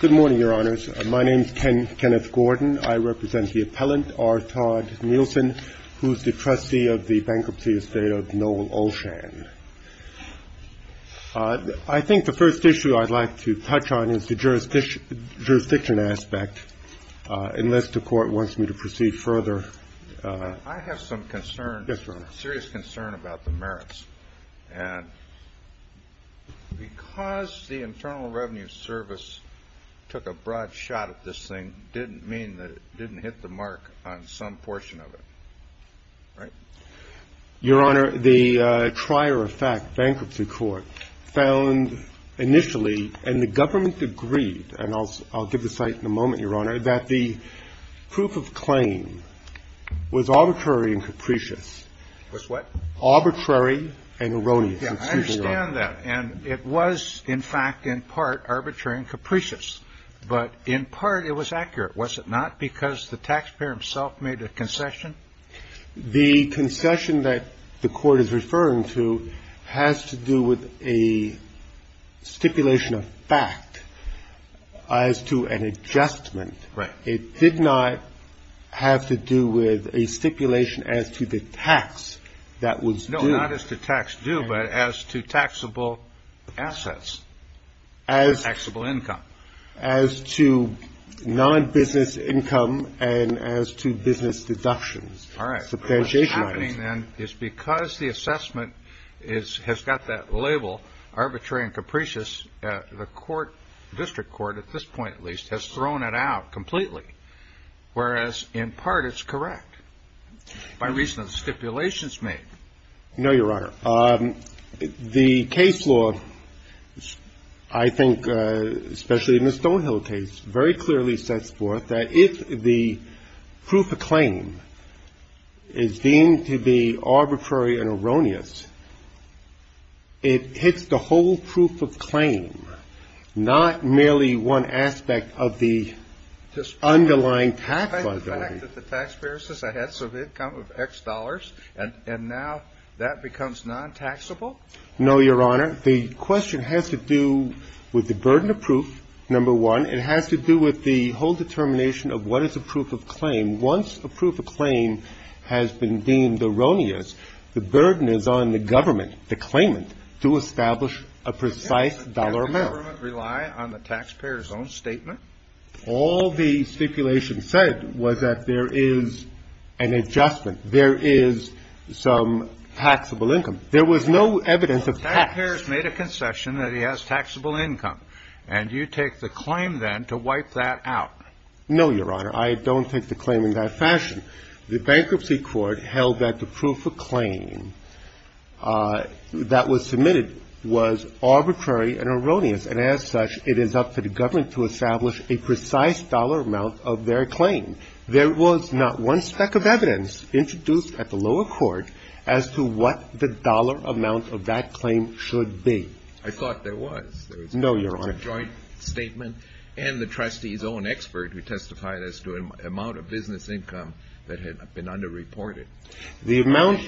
Good morning, Your Honors. My name is Kenneth Gordon. I represent the appellant, R. Todd Nielsen, who is the trustee of the bankruptcy estate of Noel Olshan. I think the first issue I'd like to touch on is the jurisdiction aspect, unless the Court wants me to proceed further. I have some concern, serious concern about the merits, and because the Internal Revenue Service took a broad shot at this thing didn't mean that it didn't hit the mark on some portion of it, right? I think the first issue I'd like to touch on is the jurisdiction aspect, unless the Court wants me to proceed further. I have some concern about the merits, unless the Court wants me to proceed further. The concession that the Court is referring to has to do with a stipulation of fact as to an adjustment. Right. It did not have to do with a stipulation as to the tax that was due. No, not as to tax due, but as to taxable assets and taxable income. As to non-business income and as to business deductions. All right. What's happening then is because the assessment has got that label, arbitrary and capricious, the court, district court at this point at least, has thrown it out completely, whereas in part it's correct by reason of the stipulations made. No, Your Honor. The case law, I think, especially in the Stonehill case, very clearly sets forth that if the proof of claim is deemed to be arbitrary and erroneous, it hits the whole proof of claim, not merely one aspect of the underlying tax liability. The fact that the taxpayer says I had some income of X dollars and now that becomes non-taxable? No, Your Honor. The question has to do with the burden of proof, number one. It has to do with the whole determination of what is a proof of claim. Once a proof of claim has been deemed erroneous, the burden is on the government, the claimant, to establish a precise dollar amount. Does the government rely on the taxpayer's own statement? All the stipulation said was that there is an adjustment. There is some taxable income. There was no evidence of tax. So the taxpayer has made a concession that he has taxable income, and you take the claim then to wipe that out? No, Your Honor. I don't take the claim in that fashion. The bankruptcy court held that the proof of claim that was submitted was arbitrary and erroneous, and as such, it is up to the government to establish a precise dollar amount of their claim. There was not one speck of evidence introduced at the lower court as to what the dollar amount of that claim should be. I thought there was. No, Your Honor. There was a joint statement and the trustee's own expert who testified as to an amount of business income that had been underreported. The amount,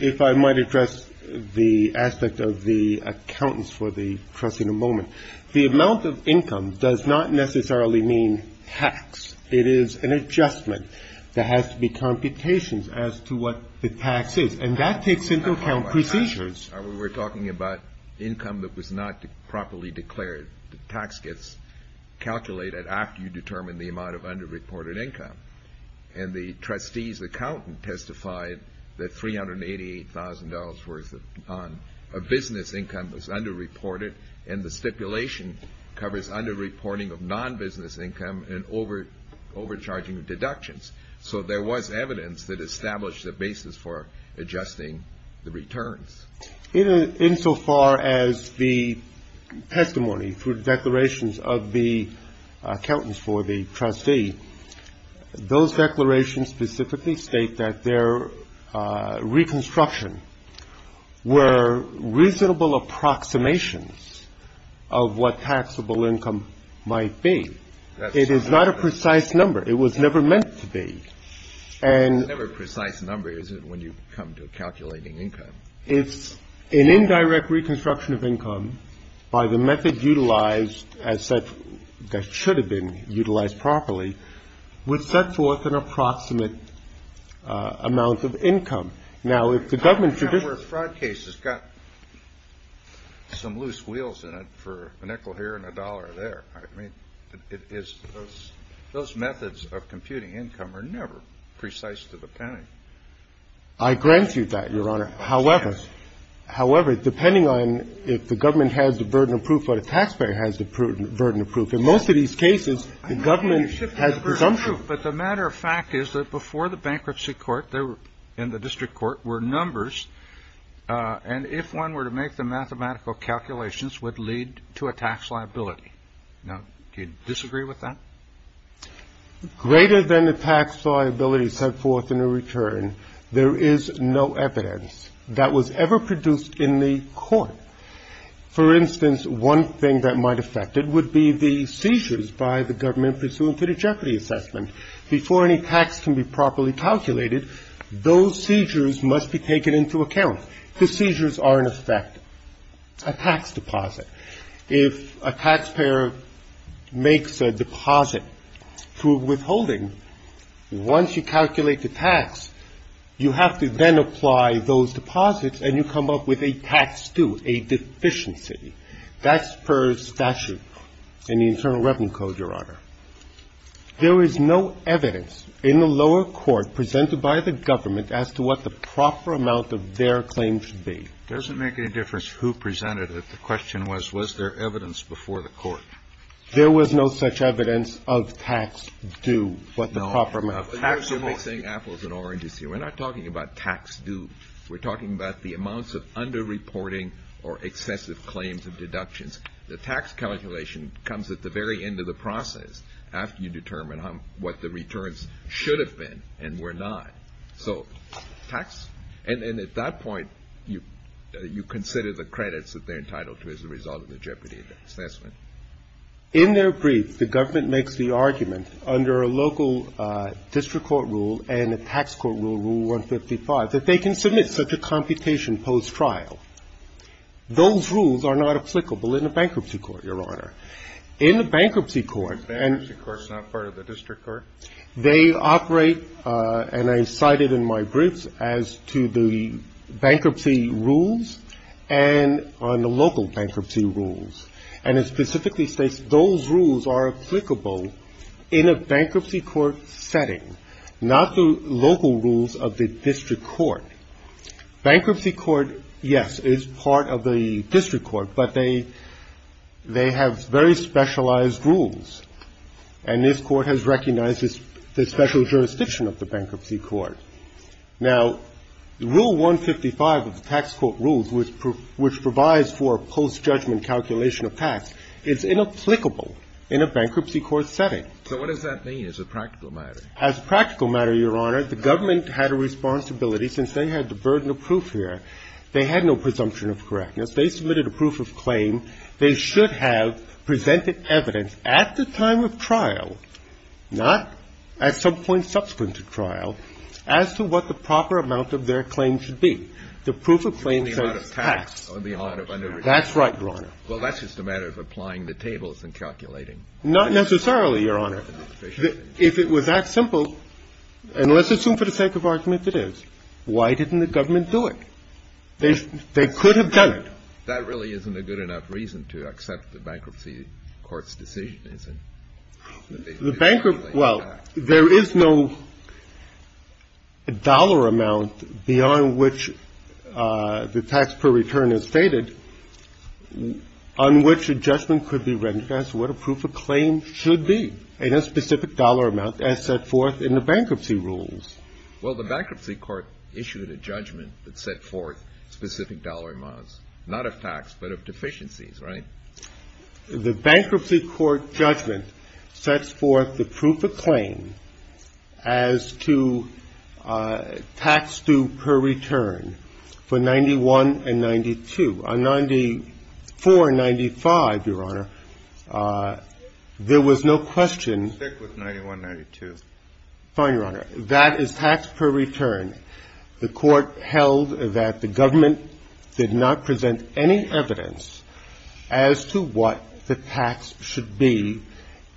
if I might address the aspect of the accountants for the trustee in a moment, the amount of income does not necessarily mean tax. It is an adjustment. There has to be computations as to what the tax is, and that takes into account procedures. We were talking about income that was not properly declared. The tax gets calculated after you determine the amount of underreported income, and the trustee's accountant testified that $388,000 worth of business income was underreported, and the stipulation covers underreporting of non-business income and overcharging of deductions. So there was evidence that established the basis for adjusting the returns. Insofar as the testimony through declarations of the accountants for the trustee, those declarations specifically state that their reconstruction were reasonable approximations of what taxable income might be. It is not a precise number. It was never meant to be. It's never a precise number, is it, when you come to calculating income? It's an indirect reconstruction of income by the method utilized as such that should have been utilized properly would set forth an approximate amount of income. Now, if the government should do it. If a fraud case has got some loose wheels in it for a nickel here and a dollar there, I mean, it is those methods of computing income are never precise to the penalty. I grant you that, Your Honor. However, depending on if the government has the burden of proof or the taxpayer has the burden of proof, in most of these cases, the government has the presumption. But the matter of fact is that before the bankruptcy court there were in the district court were numbers. And if one were to make the mathematical calculations would lead to a tax liability. Now, do you disagree with that? Greater than the tax liability set forth in a return. There is no evidence that was ever produced in the court. For instance, one thing that might affect it would be the seizures by the government pursuant to the jeopardy assessment before any tax can be properly calculated. Those seizures must be taken into account. The seizures are in effect a tax deposit. If a taxpayer makes a deposit through withholding, once you calculate the tax, you have to then apply those deposits and you come up with a tax due, a deficiency. That's per statute in the Internal Revenue Code, Your Honor. There is no evidence in the lower court presented by the government as to what the proper amount of their claim should be. It doesn't make any difference who presented it. The question was, was there evidence before the court? There was no such evidence of tax due, what the proper amount of tax would be. We're not talking about tax due. We're talking about the amounts of underreporting or excessive claims of deductions. The tax calculation comes at the very end of the process after you determine what the returns should have been and were not. So tax? And at that point, you consider the credits that they're entitled to as a result of the jeopardy assessment. In their brief, the government makes the argument under a local district court rule and a tax court rule, Rule 155, that they can submit such a computation post-trial. Those rules are not applicable in a bankruptcy court, Your Honor. In a bankruptcy court and… Bankruptcy court is not part of the district court? They operate, and I cited in my briefs, as to the bankruptcy rules and on the local bankruptcy rules. And it specifically states those rules are applicable in a bankruptcy court setting, not the local rules of the district court. Bankruptcy court, yes, is part of the district court, but they have very specialized rules. And this Court has recognized the special jurisdiction of the bankruptcy court. Now, Rule 155 of the tax court rules, which provides for post-judgment calculation of tax, is inapplicable in a bankruptcy court setting. So what does that mean as a practical matter? As a practical matter, Your Honor, the government had a responsibility since they had the burden of proof here. They had no presumption of correctness. They submitted a proof of claim. They should have presented evidence at the time of trial, not at some point subsequent to trial, as to what the proper amount of their claim should be. The proof of claim says tax. That's right, Your Honor. Well, that's just a matter of applying the tables and calculating. Not necessarily, Your Honor. If it was that simple, and let's assume for the sake of argument that it is, why didn't the government do it? They could have done it. Well, that really isn't a good enough reason to accept the bankruptcy court's decision, is it? Well, there is no dollar amount beyond which the tax per return is stated on which a judgment could be rendered as to what a proof of claim should be, in a specific dollar amount as set forth in the bankruptcy rules. Well, the bankruptcy court issued a judgment that set forth specific dollar amounts, not of tax, but of deficiencies, right? The bankruptcy court judgment sets forth the proof of claim as to tax due per return for 91 and 92. On 94 and 95, Your Honor, there was no question. Stick with 91, 92. Fine, Your Honor. That is tax per return. The court held that the government did not present any evidence as to what the tax should be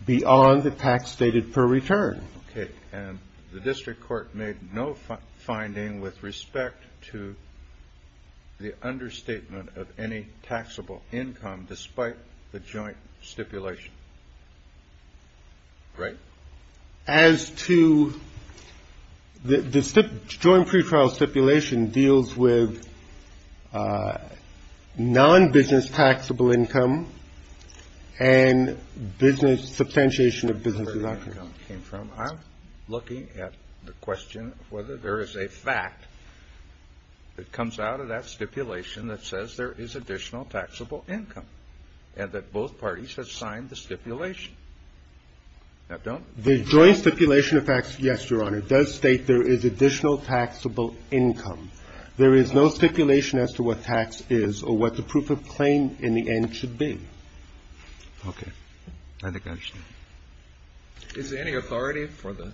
beyond the tax stated per return. Okay. And the district court made no finding with respect to the understatement of any taxable income, despite the joint stipulation, right? As to the joint pretrial stipulation deals with non-business taxable income and business, substantiation of businesses. I'm looking at the question of whether there is a fact that comes out of that stipulation that says there is additional taxable income, and that both parties have signed the stipulation. The joint stipulation of facts, yes, Your Honor, does state there is additional taxable income. There is no stipulation as to what tax is or what the proof of claim in the end should be. Okay. I think I understand. Is there any authority for the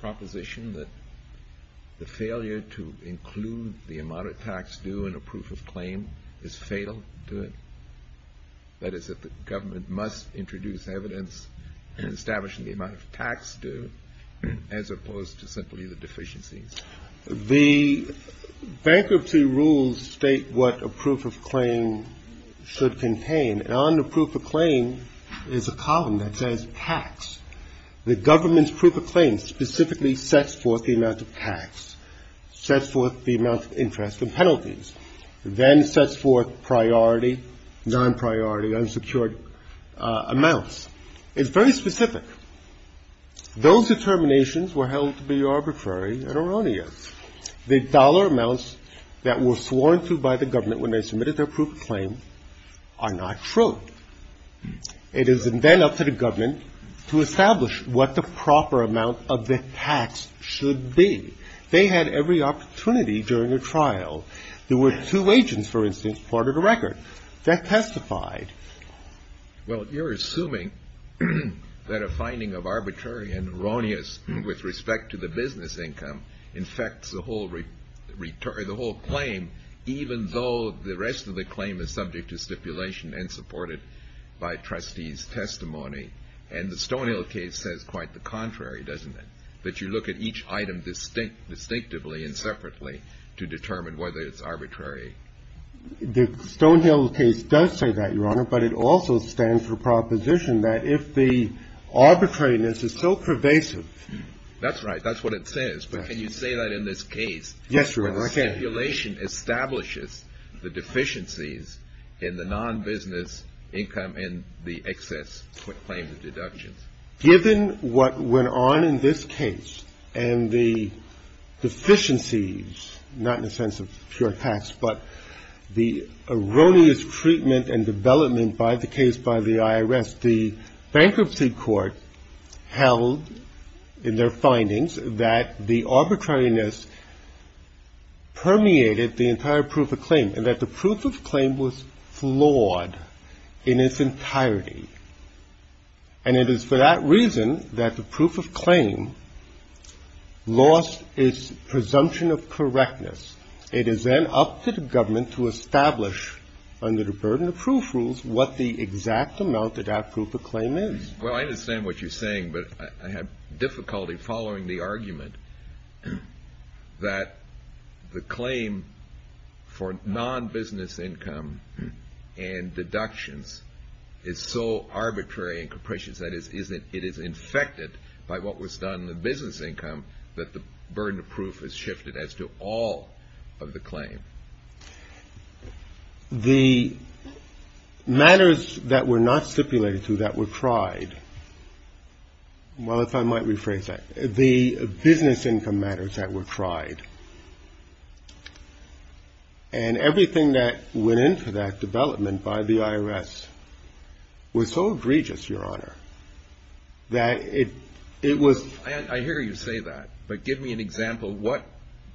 proposition that the failure to include the amount of tax due in a proof of claim is fatal to it? That is, that the government must introduce evidence establishing the amount of tax due, as opposed to simply the deficiencies. The bankruptcy rules state what a proof of claim should contain, and on the proof of claim is a column that says tax. The government's proof of claim specifically sets forth the amount of tax, sets forth the amount of interest and penalties, then sets forth priority, non-priority, unsecured amounts. It's very specific. Those determinations were held to be arbitrary and erroneous. The dollar amounts that were sworn to by the government when they submitted their proof of claim are not true. It is then up to the government to establish what the proper amount of the tax should be. They had every opportunity during a trial. There were two agents, for instance, part of the record that testified. Well, you're assuming that a finding of arbitrary and erroneous with respect to the business income infects the whole claim, even though the rest of the claim is subject to stipulation and supported by trustees' testimony. And the Stonehill case says quite the contrary, doesn't it, that you look at each item distinctively and separately to determine whether it's arbitrary? The Stonehill case does say that, Your Honor, but it also stands for proposition that if the arbitrariness is so pervasive. That's right. That's what it says. But can you say that in this case? Yes, Your Honor, I can. Where the stipulation establishes the deficiencies in the non-business income and the excess claims and deductions. Given what went on in this case and the deficiencies, not in the sense of pure tax, but the erroneous treatment and development by the case by the IRS, the bankruptcy court held in their findings that the arbitrariness permeated the entire proof of claim and that the proof of claim was flawed in its entirety. And it is for that reason that the proof of claim lost its presumption of correctness. It is then up to the government to establish under the burden of proof rules what the exact amount of that proof of claim is. Well, I understand what you're saying, but I have difficulty following the argument that the claim for non-business income and deductions is so arbitrary and capricious that it is infected by what was done in the business income that the burden of proof is shifted as to all of the claim. The matters that were not stipulated to that were tried. Well, if I might rephrase that. The business income matters that were tried. And everything that went into that development by the IRS was so egregious, Your Honor, that it was. I hear you say that, but give me an example. What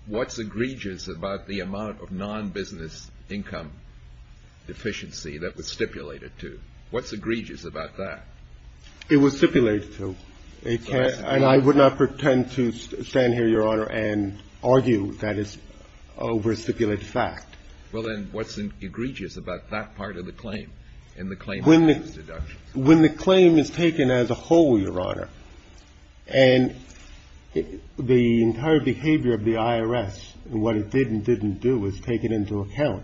what's egregious about the amount of non-business income deficiency that was stipulated to? What's egregious about that? It was stipulated to. And I would not pretend to stand here, Your Honor, and argue that it's a over-stipulated fact. Well, then what's egregious about that part of the claim and the claim for non-business deductions? When the claim is taken as a whole, Your Honor, and the entire behavior of the IRS and what it did and didn't do is take it into account,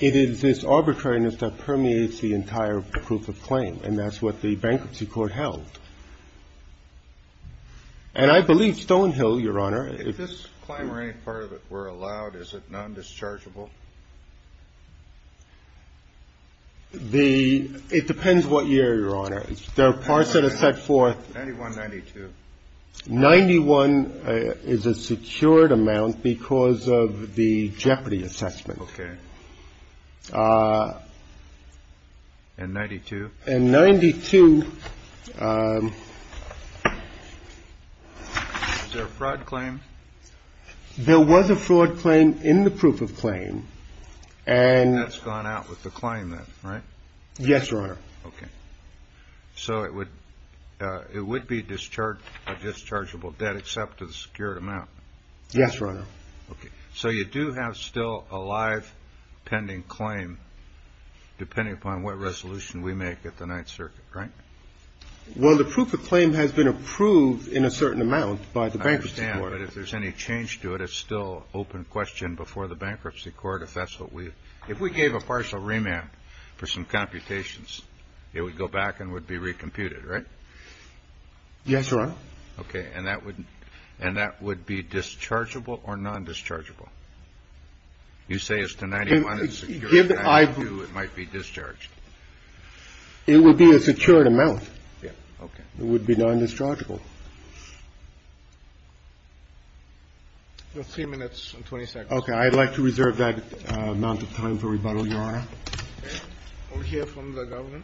it is this arbitrariness that permeates the entire proof of claim. And that's what the bankruptcy court held. And I believe Stonehill, Your Honor. If this claim or any part of it were allowed, is it non-dischargeable? It depends what year, Your Honor. There are parts that are set forth. 91, 92. 91 is a secured amount because of the jeopardy assessment. Okay. And 92? And 92. Is there a fraud claim? There was a fraud claim in the proof of claim. And that's gone out with the claim then, right? Yes, Your Honor. Okay. So it would be a dischargeable debt except to the secured amount? Yes, Your Honor. Okay. So you do have still a live pending claim depending upon what resolution we make at the Ninth Circuit, right? Well, the proof of claim has been approved in a certain amount by the bankruptcy court. I understand. But if there's any change to it, it's still open question before the bankruptcy court if that's what we do. If we gave a partial remand for some computations, it would go back and would be recomputed, right? Yes, Your Honor. Okay. And that would be dischargeable or nondischargeable? You say it's the 91, it's the 92, it might be discharged. It would be a secured amount. Yes. Okay. It would be nondischargeable. Three minutes and 20 seconds. Okay. I'd like to reserve that amount of time for rebuttal, Your Honor. Okay. We'll hear from the governor.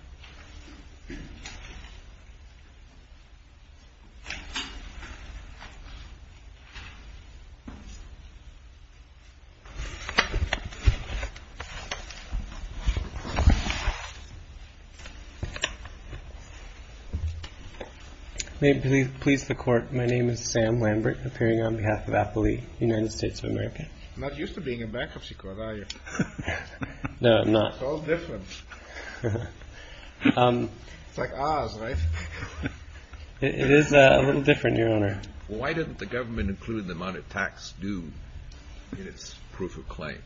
May it please the Court, my name is Sam Lambert, appearing on behalf of Appley, United States of America. Not used to being a bankruptcy court, are you? No, I'm not. It's all different. It's like ours, right? It is a little different, Your Honor. Why didn't the government include the amount of tax due in its proof of claim?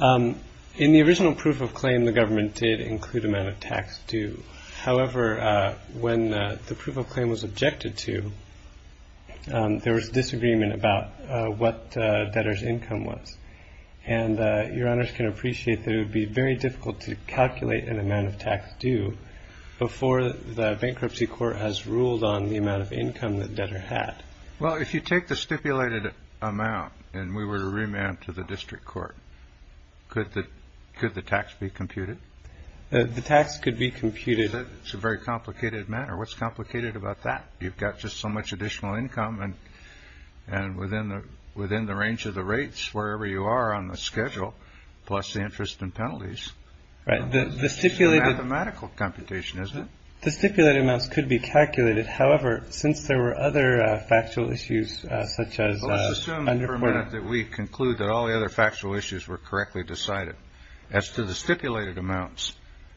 In the original proof of claim, the government did include amount of tax due. However, when the proof of claim was objected to, there was disagreement about what debtor's income was. And Your Honors can appreciate that it would be very difficult to calculate an amount of tax due before the bankruptcy court has ruled on the amount of income that debtor had. Well, if you take the stipulated amount and we were to remand to the district court, could the tax be computed? The tax could be computed. It's a very complicated matter. What's complicated about that? You've got just so much additional income, and within the range of the rates, wherever you are on the schedule, plus the interest and penalties. Right. It's a mathematical computation, isn't it? The stipulated amounts could be calculated. However, since there were other factual issues such as under- Let's assume for a minute that we conclude that all the other factual issues were correctly decided. As to the stipulated amounts,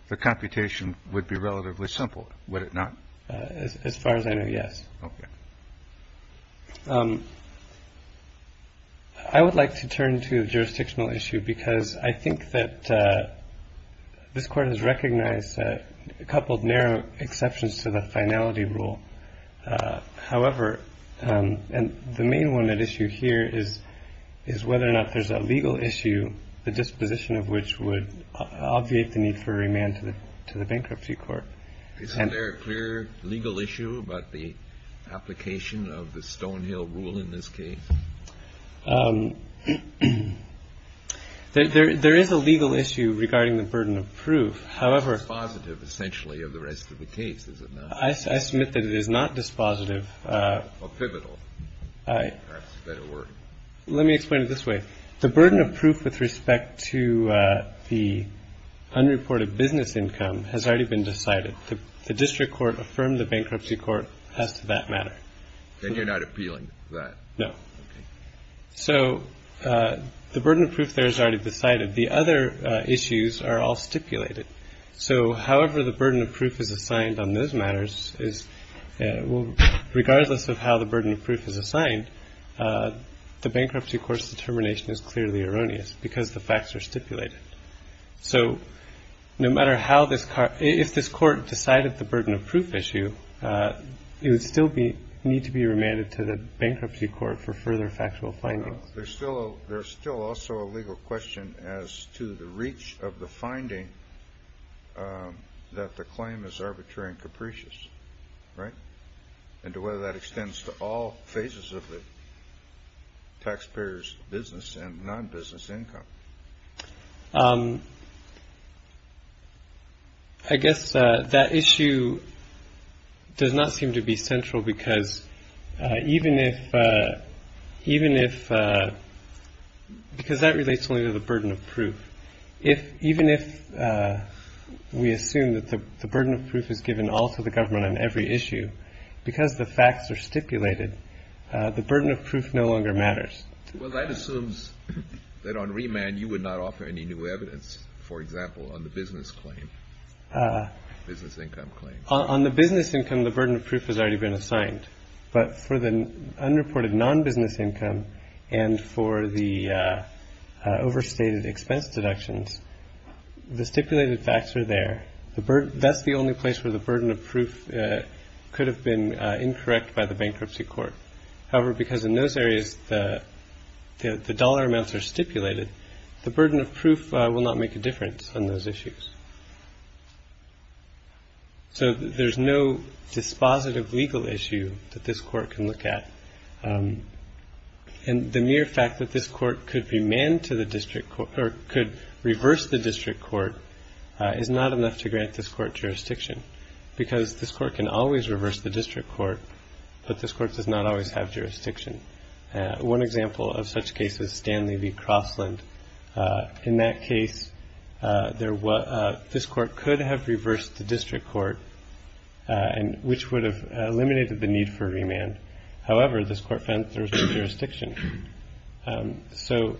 the computation would be relatively simple, would it not? As far as I know, yes. Okay. I would like to turn to the jurisdictional issue because I think that this court has recognized a couple of narrow exceptions to the finality rule. However, the main one at issue here is whether or not there's a legal issue, the disposition of which would obviate the need for remand to the bankruptcy court. Is there a clear legal issue about the application of the Stonehill rule in this case? There is a legal issue regarding the burden of proof. However- It's dispositive, essentially, of the rest of the case, is it not? I submit that it is not dispositive. Or pivotal. That's a better word. Let me explain it this way. The burden of proof with respect to the unreported business income has already been decided. The district court affirmed the bankruptcy court as to that matter. Then you're not appealing to that? No. Okay. So the burden of proof there is already decided. The other issues are all stipulated. So however the burden of proof is assigned on those matters is regardless of how the burden of proof is assigned, the bankruptcy court's determination is clearly erroneous because the facts are stipulated. So no matter how this court- if this court decided the burden of proof issue, it would still need to be remanded to the bankruptcy court for further factual findings. There's still also a legal question as to the reach of the finding that the claim is arbitrary and capricious, right? And to whether that extends to all phases of the taxpayer's business and non-business income. I guess that issue does not seem to be central because even if- because that relates only to the burden of proof. Even if we assume that the burden of proof is given also to the government on every issue, because the facts are stipulated, the burden of proof no longer matters. Well, that assumes that on remand you would not offer any new evidence, for example, on the business claim, business income claim. On the business income, the burden of proof has already been assigned. But for the unreported non-business income and for the overstated expense deductions, the stipulated facts are there. That's the only place where the burden of proof could have been incorrect by the bankruptcy court. However, because in those areas the dollar amounts are stipulated, the burden of proof will not make a difference on those issues. So there's no dispositive legal issue that this court can look at. And the mere fact that this court could be manned to the district or could reverse the district court is not enough to grant this court jurisdiction. Because this court can always reverse the district court, but this court does not always have jurisdiction. One example of such cases, Stanley v. Crossland. In that case, this court could have reversed the district court, which would have eliminated the need for remand. However, this court found there was no jurisdiction. So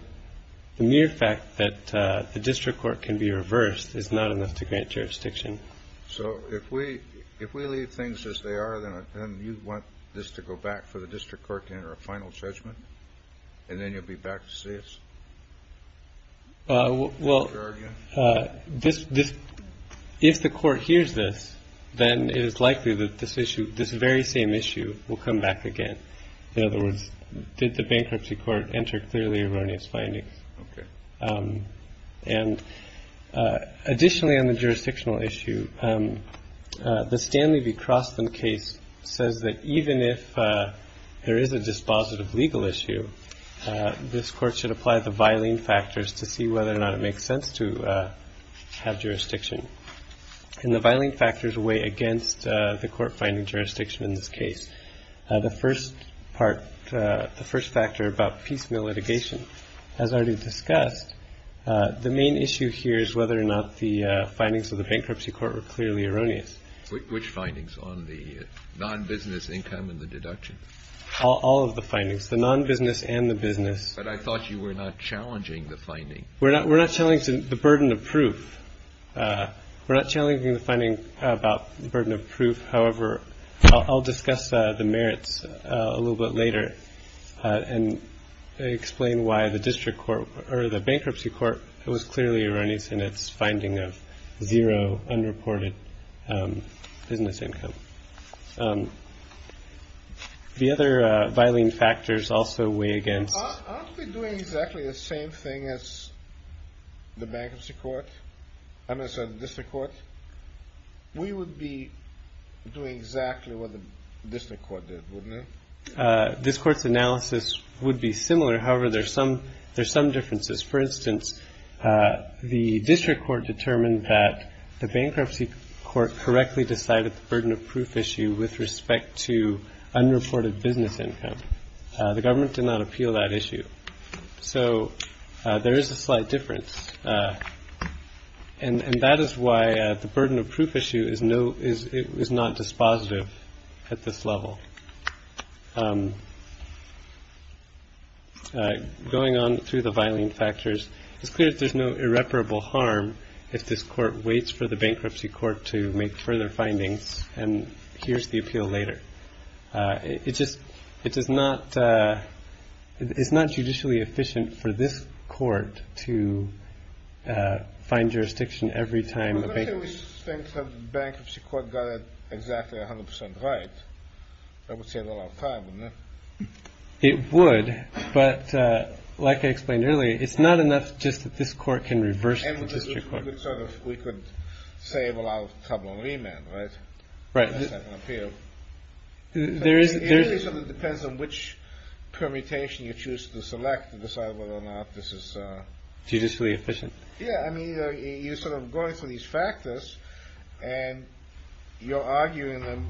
the mere fact that the district court can be reversed is not enough to grant jurisdiction. So if we if we leave things as they are, then you want this to go back for the district court to enter a final judgment and then you'll be back to see us. Well, well, this this if the court hears this, then it is likely that this issue, this very same issue will come back again. In other words, did the bankruptcy court enter clearly erroneous findings? And additionally, on the jurisdictional issue, the Stanley v. Crossland case says that even if there is a dispositive legal issue, this court should apply the violent factors to see whether or not it makes sense to have jurisdiction. And the violent factors weigh against the court finding jurisdiction in this case. The first part, the first factor about piecemeal litigation has already discussed. The main issue here is whether or not the findings of the bankruptcy court were clearly erroneous. Which findings on the non-business income and the deduction? All of the findings, the non-business and the business. But I thought you were not challenging the finding. We're not we're not telling the burden of proof. We're not challenging the finding about the burden of proof. However, I'll discuss the merits a little bit later and explain why the district court or the bankruptcy court. It was clearly erroneous in its finding of zero unreported business income. The other filing factors also weigh against doing exactly the same thing as the bankruptcy court. I'm going to say the district court. We would be doing exactly what the district court did, wouldn't we? This court's analysis would be similar. However, there's some there's some differences. For instance, the district court determined that the bankruptcy court correctly decided the burden of proof issue with respect to unreported business income. The government did not appeal that issue. So there is a slight difference. And that is why the burden of proof issue is no is it is not dispositive at this level. Going on through the filing factors, it's clear that there's no irreparable harm if this court waits for the bankruptcy court to make further findings. And here's the appeal later. It's just it is not it's not judicially efficient for this court to find jurisdiction every time the bankruptcy court got exactly 100 percent right. It would. But like I explained earlier, it's not enough. Just that this court can reverse and we could save a lot of trouble. Amen. Right. Right. Here there is. It depends on which permutation you choose to select to decide whether or not this is judicially efficient. Yeah. I mean, you sort of going through these factors and you're arguing them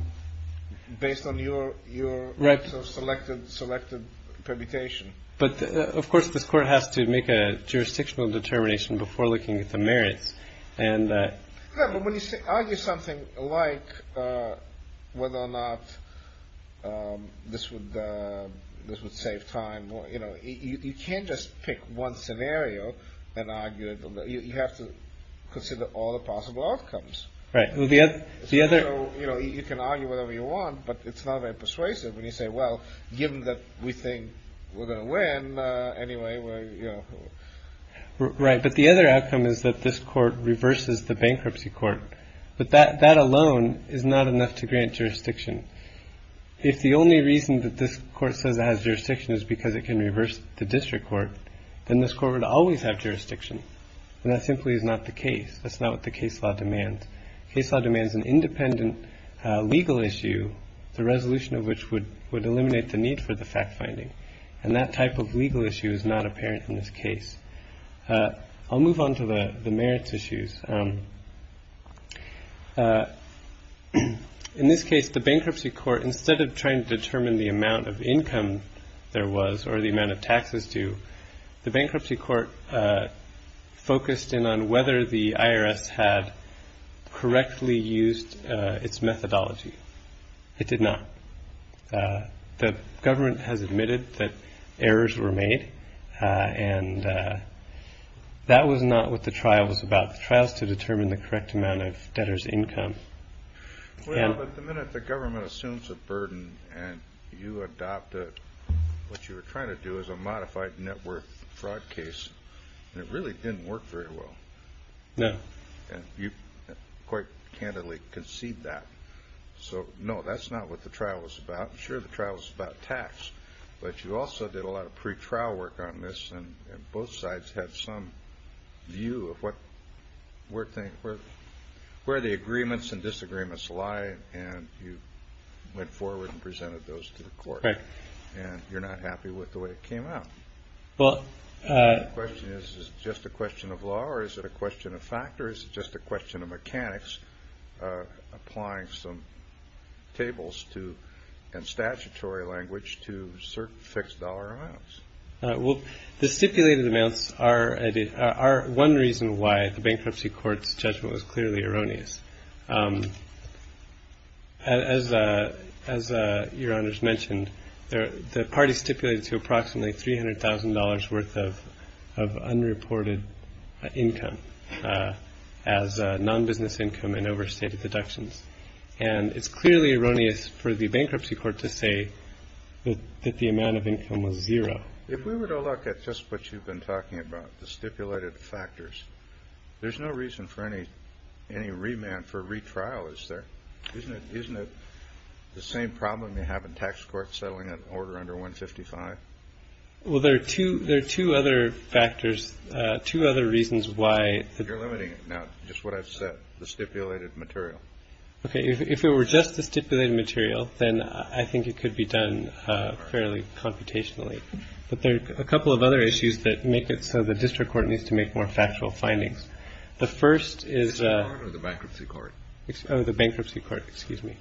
based on your your right. So selected selected permutation. But of course, this court has to make a jurisdictional determination before looking at the merits. And when you argue something like whether or not this would this would save time. Well, you know, you can't just pick one scenario and argue that you have to consider all the possible outcomes. Right. Well, the the other. You know, you can argue whatever you want, but it's not very persuasive when you say, well, given that we think we're going to win anyway. Right. But the other outcome is that this court reverses the bankruptcy court. But that that alone is not enough to grant jurisdiction. If the only reason that this court says it has jurisdiction is because it can reverse the district court, then this court would always have jurisdiction. And that simply is not the case. That's not what the case law demands. Case law demands an independent legal issue, the resolution of which would would eliminate the need for the fact finding. And that type of legal issue is not apparent in this case. I'll move on to the merits issues. In this case, the bankruptcy court, instead of trying to determine the amount of income there was or the amount of taxes due, the bankruptcy court focused in on whether the IRS had correctly used its methodology. It did not. The government has admitted that errors were made and that was not what the trial was about. The trial is to determine the correct amount of debtors income. But the minute the government assumes a burden and you adopt it, what you are trying to do is a modified network fraud case. It really didn't work very well. No. You quite candidly concede that. So, no, that's not what the trial was about. Sure, the trial was about tax, but you also did a lot of pretrial work on this. And both sides have some view of what we're thinking, where the agreements and disagreements lie. And you went forward and presented those to the court and you're not happy with the way it came out. But the question is, is just a question of law or is it a question of factors? Just a question of mechanics applying some tables to and statutory language to certain fixed dollar amounts. Well, the stipulated amounts are one reason why the bankruptcy court's judgment was clearly erroneous. As as your honors mentioned, the party stipulated to approximately three hundred thousand dollars worth of of unreported income as non-business income and overstated deductions. And it's clearly erroneous for the bankruptcy court to say that the amount of income was zero. If we were to look at just what you've been talking about, the stipulated factors, there's no reason for any any remand for retrial. Is there isn't it? Isn't it the same problem you have in tax court settling an order under 155? Well, there are two there are two other factors, two other reasons why you're limiting. Now, just what I've said, the stipulated material. OK. If it were just the stipulated material, then I think it could be done fairly computationally. But there are a couple of other issues that make it so the district court needs to make more factual findings. The first is the bankruptcy court. The bankruptcy court. Excuse me.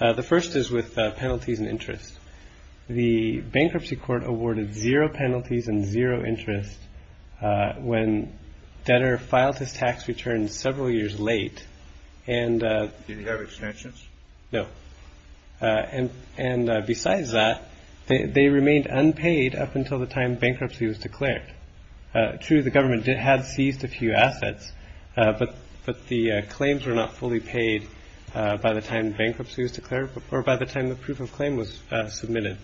The first is with penalties and interest. The bankruptcy court awarded zero penalties and zero interest when debtor filed his tax returns several years late. And did he have extensions? No. And and besides that, they remained unpaid up until the time bankruptcy was declared to the government. It had seized a few assets, but but the claims were not fully paid by the time bankruptcy was declared or by the time the proof of claim was submitted.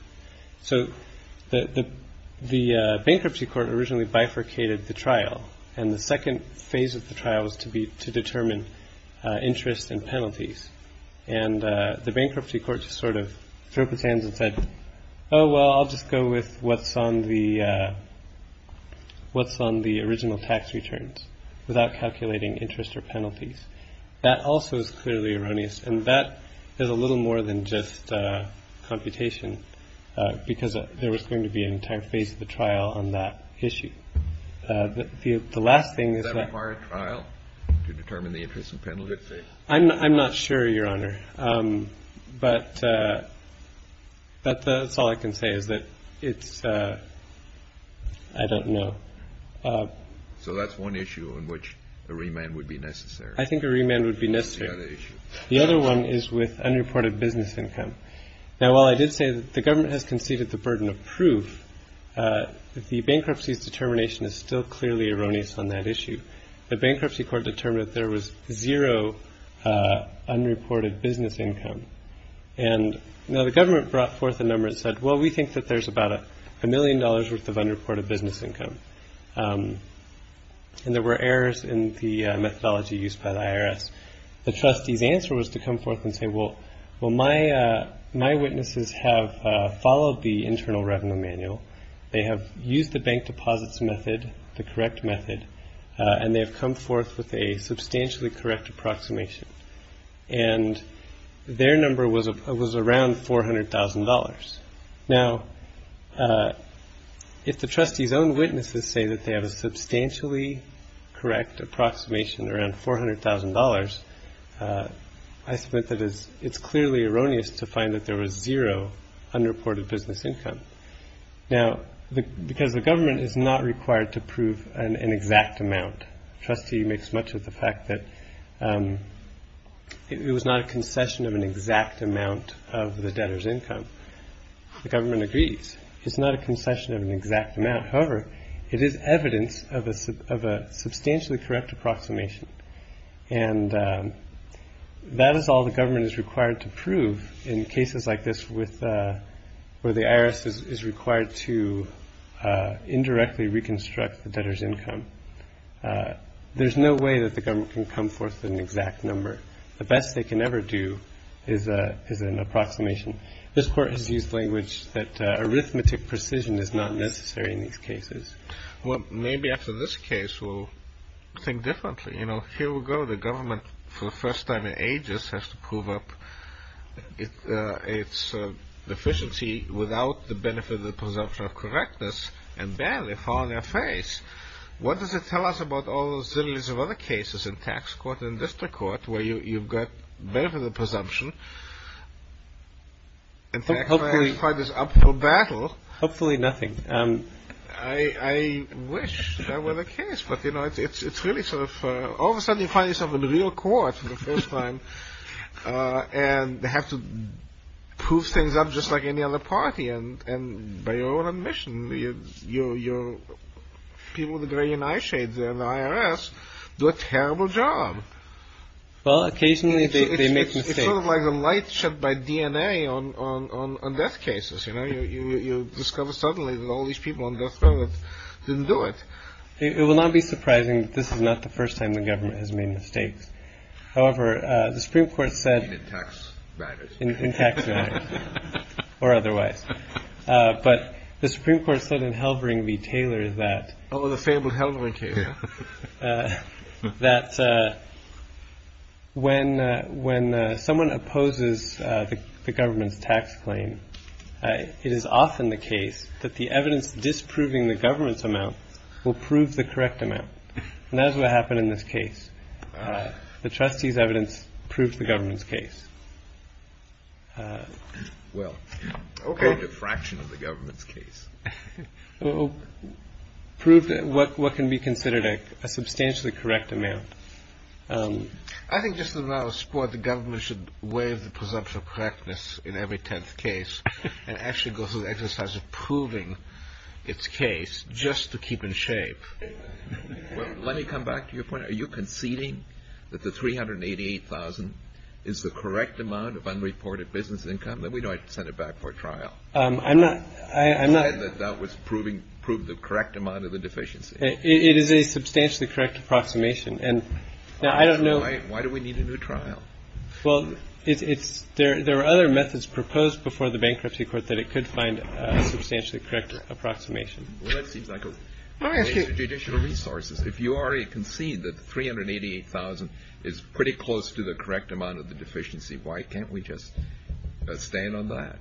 So the the bankruptcy court originally bifurcated the trial. And the second phase of the trial was to be to determine interest and penalties. And the bankruptcy court sort of took his hands and said, oh, well, I'll just go with what's on the what's on the original tax returns without calculating interest or penalties. That also is clearly erroneous. And that is a little more than just computation, because there was going to be an entire phase of the trial on that issue. The last thing is that required trial to determine the interest and penalties. I'm not sure, Your Honor, but. But that's all I can say is that it's I don't know. So that's one issue in which a remand would be necessary. I think a remand would be necessary. The other one is with unreported business income. Now, while I did say that the government has conceded the burden of proof, the bankruptcy's determination is still clearly erroneous on that issue. The bankruptcy court determined there was zero unreported business income. And now the government brought forth a number and said, well, we think that there's about a million dollars worth of unreported business income. And there were errors in the methodology used by the IRS. The trustee's answer was to come forth and say, well, well, my my witnesses have followed the internal revenue manual. They have used the bank deposits method, the correct method, and they have come forth with a substantially correct approximation. And their number was it was around four hundred thousand dollars. Now, if the trustee's own witnesses say that they have a substantially correct approximation around four hundred thousand dollars, I submit that it's clearly erroneous to find that there was zero unreported business income. Now, because the government is not required to prove an exact amount. Trustee makes much of the fact that it was not a concession of an exact amount of the debtor's income. The government agrees it's not a concession of an exact amount. However, it is evidence of a of a substantially correct approximation. And that is all the government is required to prove in cases like this with where the IRS is required to indirectly reconstruct the debtor's income. There's no way that the government can come forth with an exact number. The best they can ever do is a is an approximation. This court has used language that arithmetic precision is not necessary in these cases. Well, maybe after this case, we'll think differently. You know, here we go. The government for the first time in ages has to prove up its deficiency without the benefit of the presumption of correctness. And then they fall on their face. What does it tell us about all those zillions of other cases in tax court and district court where you've got benefit of the presumption? Hopefully nothing. I wish that were the case. But, you know, it's really sort of all of a sudden you find yourself in the real court for the first time and have to prove things up just like any other party. And by your own admission, your people, the gray and eye shades and the IRS do a terrible job. Well, occasionally they make a light show by DNA on death cases. You discover suddenly that all these people on death row didn't do it. It will not be surprising. This is not the first time the government has made mistakes. However, the Supreme Court said in tax matters or otherwise. But the Supreme Court said in Halvering v. Taylor that the fable held that when when someone opposes the government's tax claim, it is often the case that the evidence disproving the government's amount will prove the correct amount. That's what happened in this case. The trustee's evidence proved the government's case. Well, OK, a fraction of the government's case proved what can be considered a substantially correct amount. I think this is not a sport. The government should wave the presumption of correctness in every 10th case and actually go through the exercise of proving its case just to keep in shape. Let me come back to your point. Are you conceding that the three hundred and eighty eight thousand is the correct amount of unreported business income that we don't send it back for trial? I'm not I'm not that that was proving prove the correct amount of the deficiency. It is a substantially correct approximation. And I don't know. Why do we need a new trial? Well, it's there. There are other methods proposed before the bankruptcy court that it could find a substantially correct approximation. Well, that seems like a judicial resources. If you are a concede that three hundred eighty eight thousand is pretty close to the correct amount of the deficiency. Why can't we just stand on that?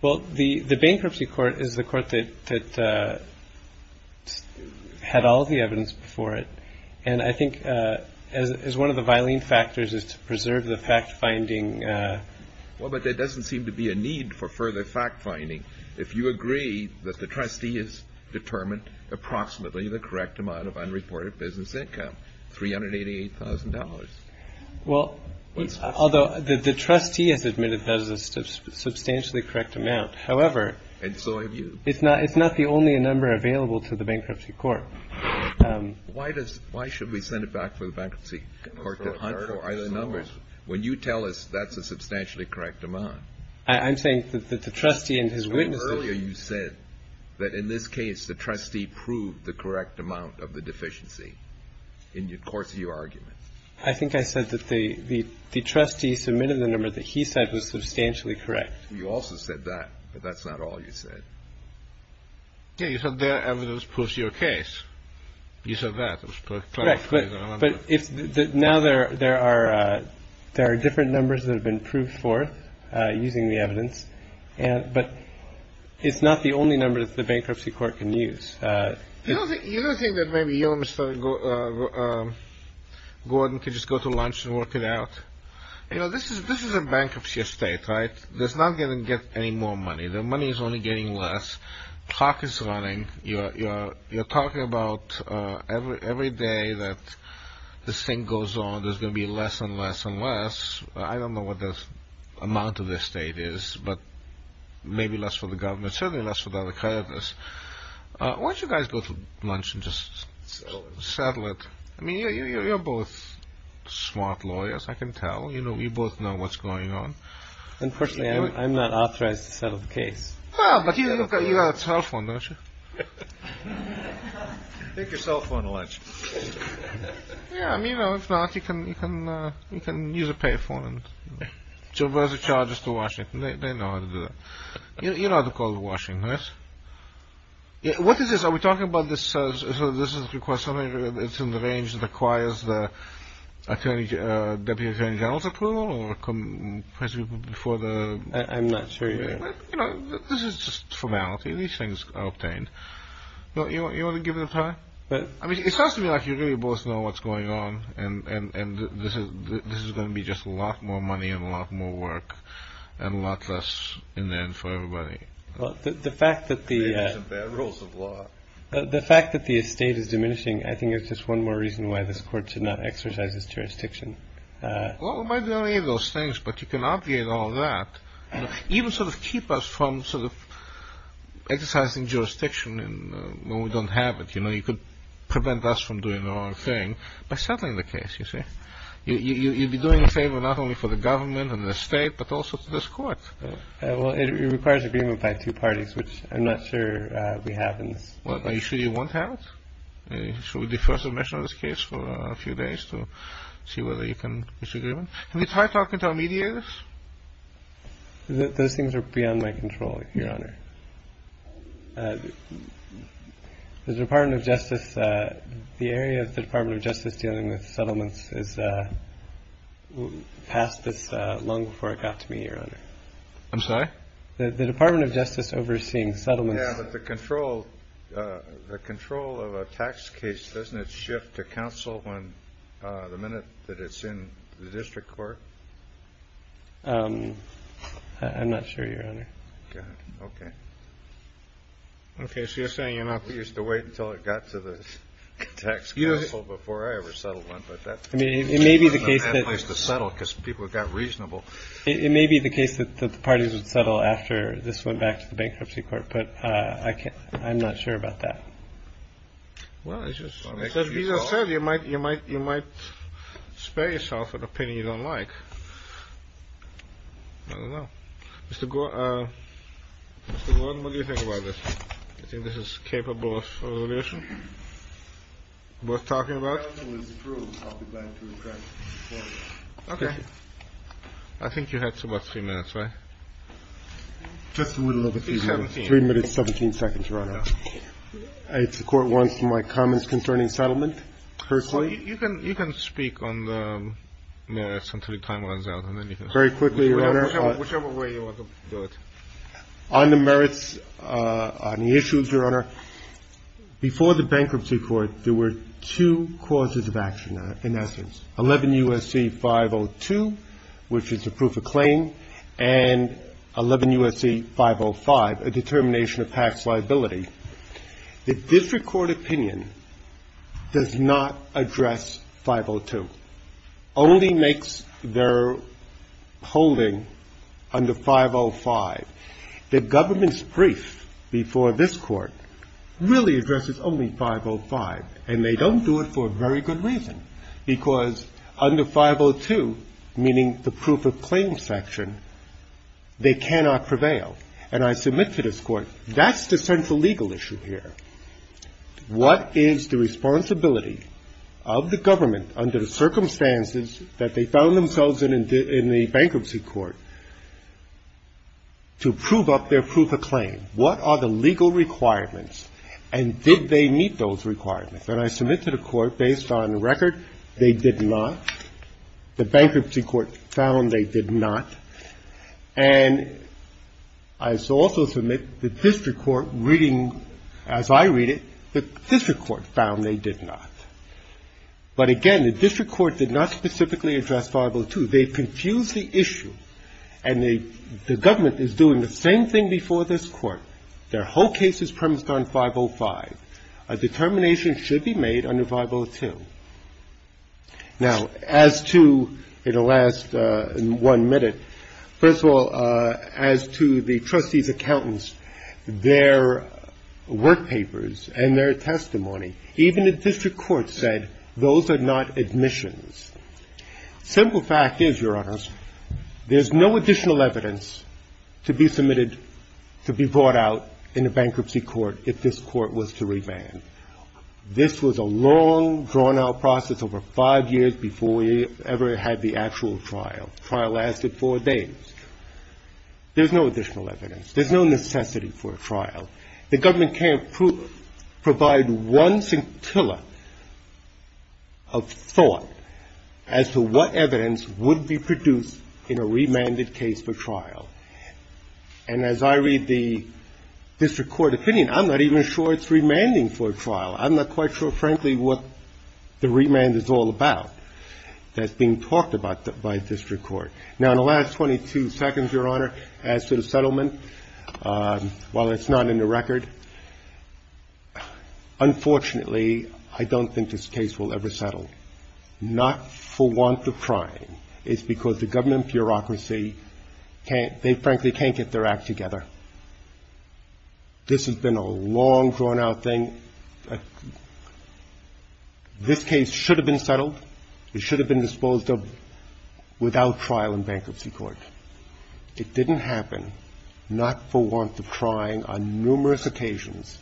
Well, the bankruptcy court is the court that had all the evidence for it. And I think as one of the violent factors is to preserve the fact finding. Well, but there doesn't seem to be a need for further fact finding. If you agree that the trustee is determined approximately the correct amount of unreported business income. Three hundred eighty eight thousand dollars. Well, although the trustee has admitted that is a substantially correct amount. However. And so have you. It's not it's not the only number available to the bankruptcy court. Why does why should we send it back for the bankruptcy court numbers when you tell us that's a substantially correct amount? I'm saying that the trustee and his witness earlier you said that in this case, the trustee proved the correct amount of the deficiency in the course of your argument. I think I said that the trustee submitted the number that he said was substantially correct. You also said that. But that's not all you said. You said the evidence proves your case. You said that was correct. But now there there are there are different numbers that have been proved for using the evidence. But it's not the only number that the bankruptcy court can use. You don't think that maybe, you know, Mr. Gordon could just go to lunch and work it out. You know, this is this is a bankruptcy estate, right? There's not going to get any more money. The money is only getting less. Clock is running. You're talking about every day that this thing goes on. There's going to be less and less and less. I don't know what this amount of the estate is, but maybe less for the government. Certainly less for the creditors. Why don't you guys go to lunch and just settle it. I mean, you're both smart lawyers. I can tell, you know, you both know what's going on. Unfortunately, I'm not authorized to settle the case. But you've got a cell phone, don't you? Take your cell phone to lunch. I mean, if not, you can you can you can use a pay phone. So where's the charges to Washington? They know how to do that. You know how to call the Washingtons. What is this? Are we talking about this? So this is something that's in the range that requires the deputy attorney general's approval? I'm not sure. You know, this is just formality. These things are obtained. You want to give it a try? I mean, it sounds to me like you really both know what's going on. And this is going to be just a lot more money and a lot more work and a lot less in the end for everybody. Well, the fact that the rules of law, the fact that the estate is diminishing, I think it's just one more reason why this court should not exercise its jurisdiction. Well, it might be one of those things, but you can obviate all that, even sort of keep us from sort of exercising jurisdiction when we don't have it. You know, you could prevent us from doing the wrong thing by settling the case. You see, you'd be doing a favor not only for the government and the state, but also to this court. Well, it requires agreement by two parties, which I'm not sure we have in this case. Are you sure you won't have it? Should we defer submission of this case for a few days to see whether you can reach agreement? Can we try talking to our mediators? Those things are beyond my control, Your Honor. The Department of Justice, the area of the Department of Justice dealing with settlements is past this long before it got to me, Your Honor. I'm sorry? The Department of Justice overseeing settlements. Yeah, but the control of a tax case, doesn't it shift to counsel when the minute that it's in the district court? I'm not sure, Your Honor. Okay. Okay, so you're saying you're not used to wait until it got to the tax counsel before I ever settled one, but it may be the case that people got reasonable. It may be the case that the parties would settle after this went back to the bankruptcy court. But I can't. I'm not sure about that. Well, as you said, you might you might you might spare yourself an opinion you don't like. Mr. Gordon, what do you think about this? I think this is capable of resolution. What are you talking about? I think you had about three minutes, right? Three minutes, 17 seconds, Your Honor. The court wants my comments concerning settlement. You can speak on the merits until the time runs out. Very quickly, Your Honor. Whichever way you want to do it. On the merits, on the issues, Your Honor, before the bankruptcy court, there were two causes of action in essence. 11 U.S.C. 502, which is a proof of claim, and 11 U.S.C. 505, a determination of tax liability. The district court opinion does not address 502. The district court only makes their holding under 505. The government's brief before this court really addresses only 505, and they don't do it for a very good reason, because under 502, meaning the proof of claim section, they cannot prevail. And I submit to this court, that's the central legal issue here. What is the responsibility of the government under the circumstances that they found themselves in in the bankruptcy court to prove up their proof of claim? What are the legal requirements, and did they meet those requirements? And I submit to the court, based on record, they did not. The bankruptcy court found they did not. And I also submit the district court reading, as I read it, the district court found they did not. But again, the district court did not specifically address 502. They confused the issue, and the government is doing the same thing before this court. Their whole case is premised on 505. A determination should be made under 502. Now, as to the last one minute, first of all, as to the trustees' accountants, their work papers and their testimony, even the district court said those are not admissions. Simple fact is, Your Honors, there's no additional evidence to be submitted to be brought out in a bankruptcy court if this court was to revand. This was a long, drawn-out process over five years before we ever had the actual trial. The trial lasted four days. There's no additional evidence. There's no necessity for a trial. The government can't provide one scintilla of thought as to what evidence would be produced in a remanded case for trial. And as I read the district court opinion, I'm not even sure it's remanding for a trial. I'm not quite sure, frankly, what the remand is all about that's being talked about by district court. Now, in the last 22 seconds, Your Honor, as to the settlement, while it's not in the record, unfortunately, I don't think this case will ever settle, not for want of trying. It's because the government bureaucracy, they frankly can't get their act together. This has been a long, drawn-out thing. This case should have been settled. It should have been disposed of without trial in bankruptcy court. It didn't happen, not for want of trying on numerous occasions.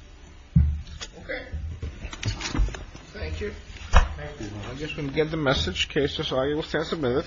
Okay. Thank you. Thank you. I'm just going to get the message in case this argument stands a minute.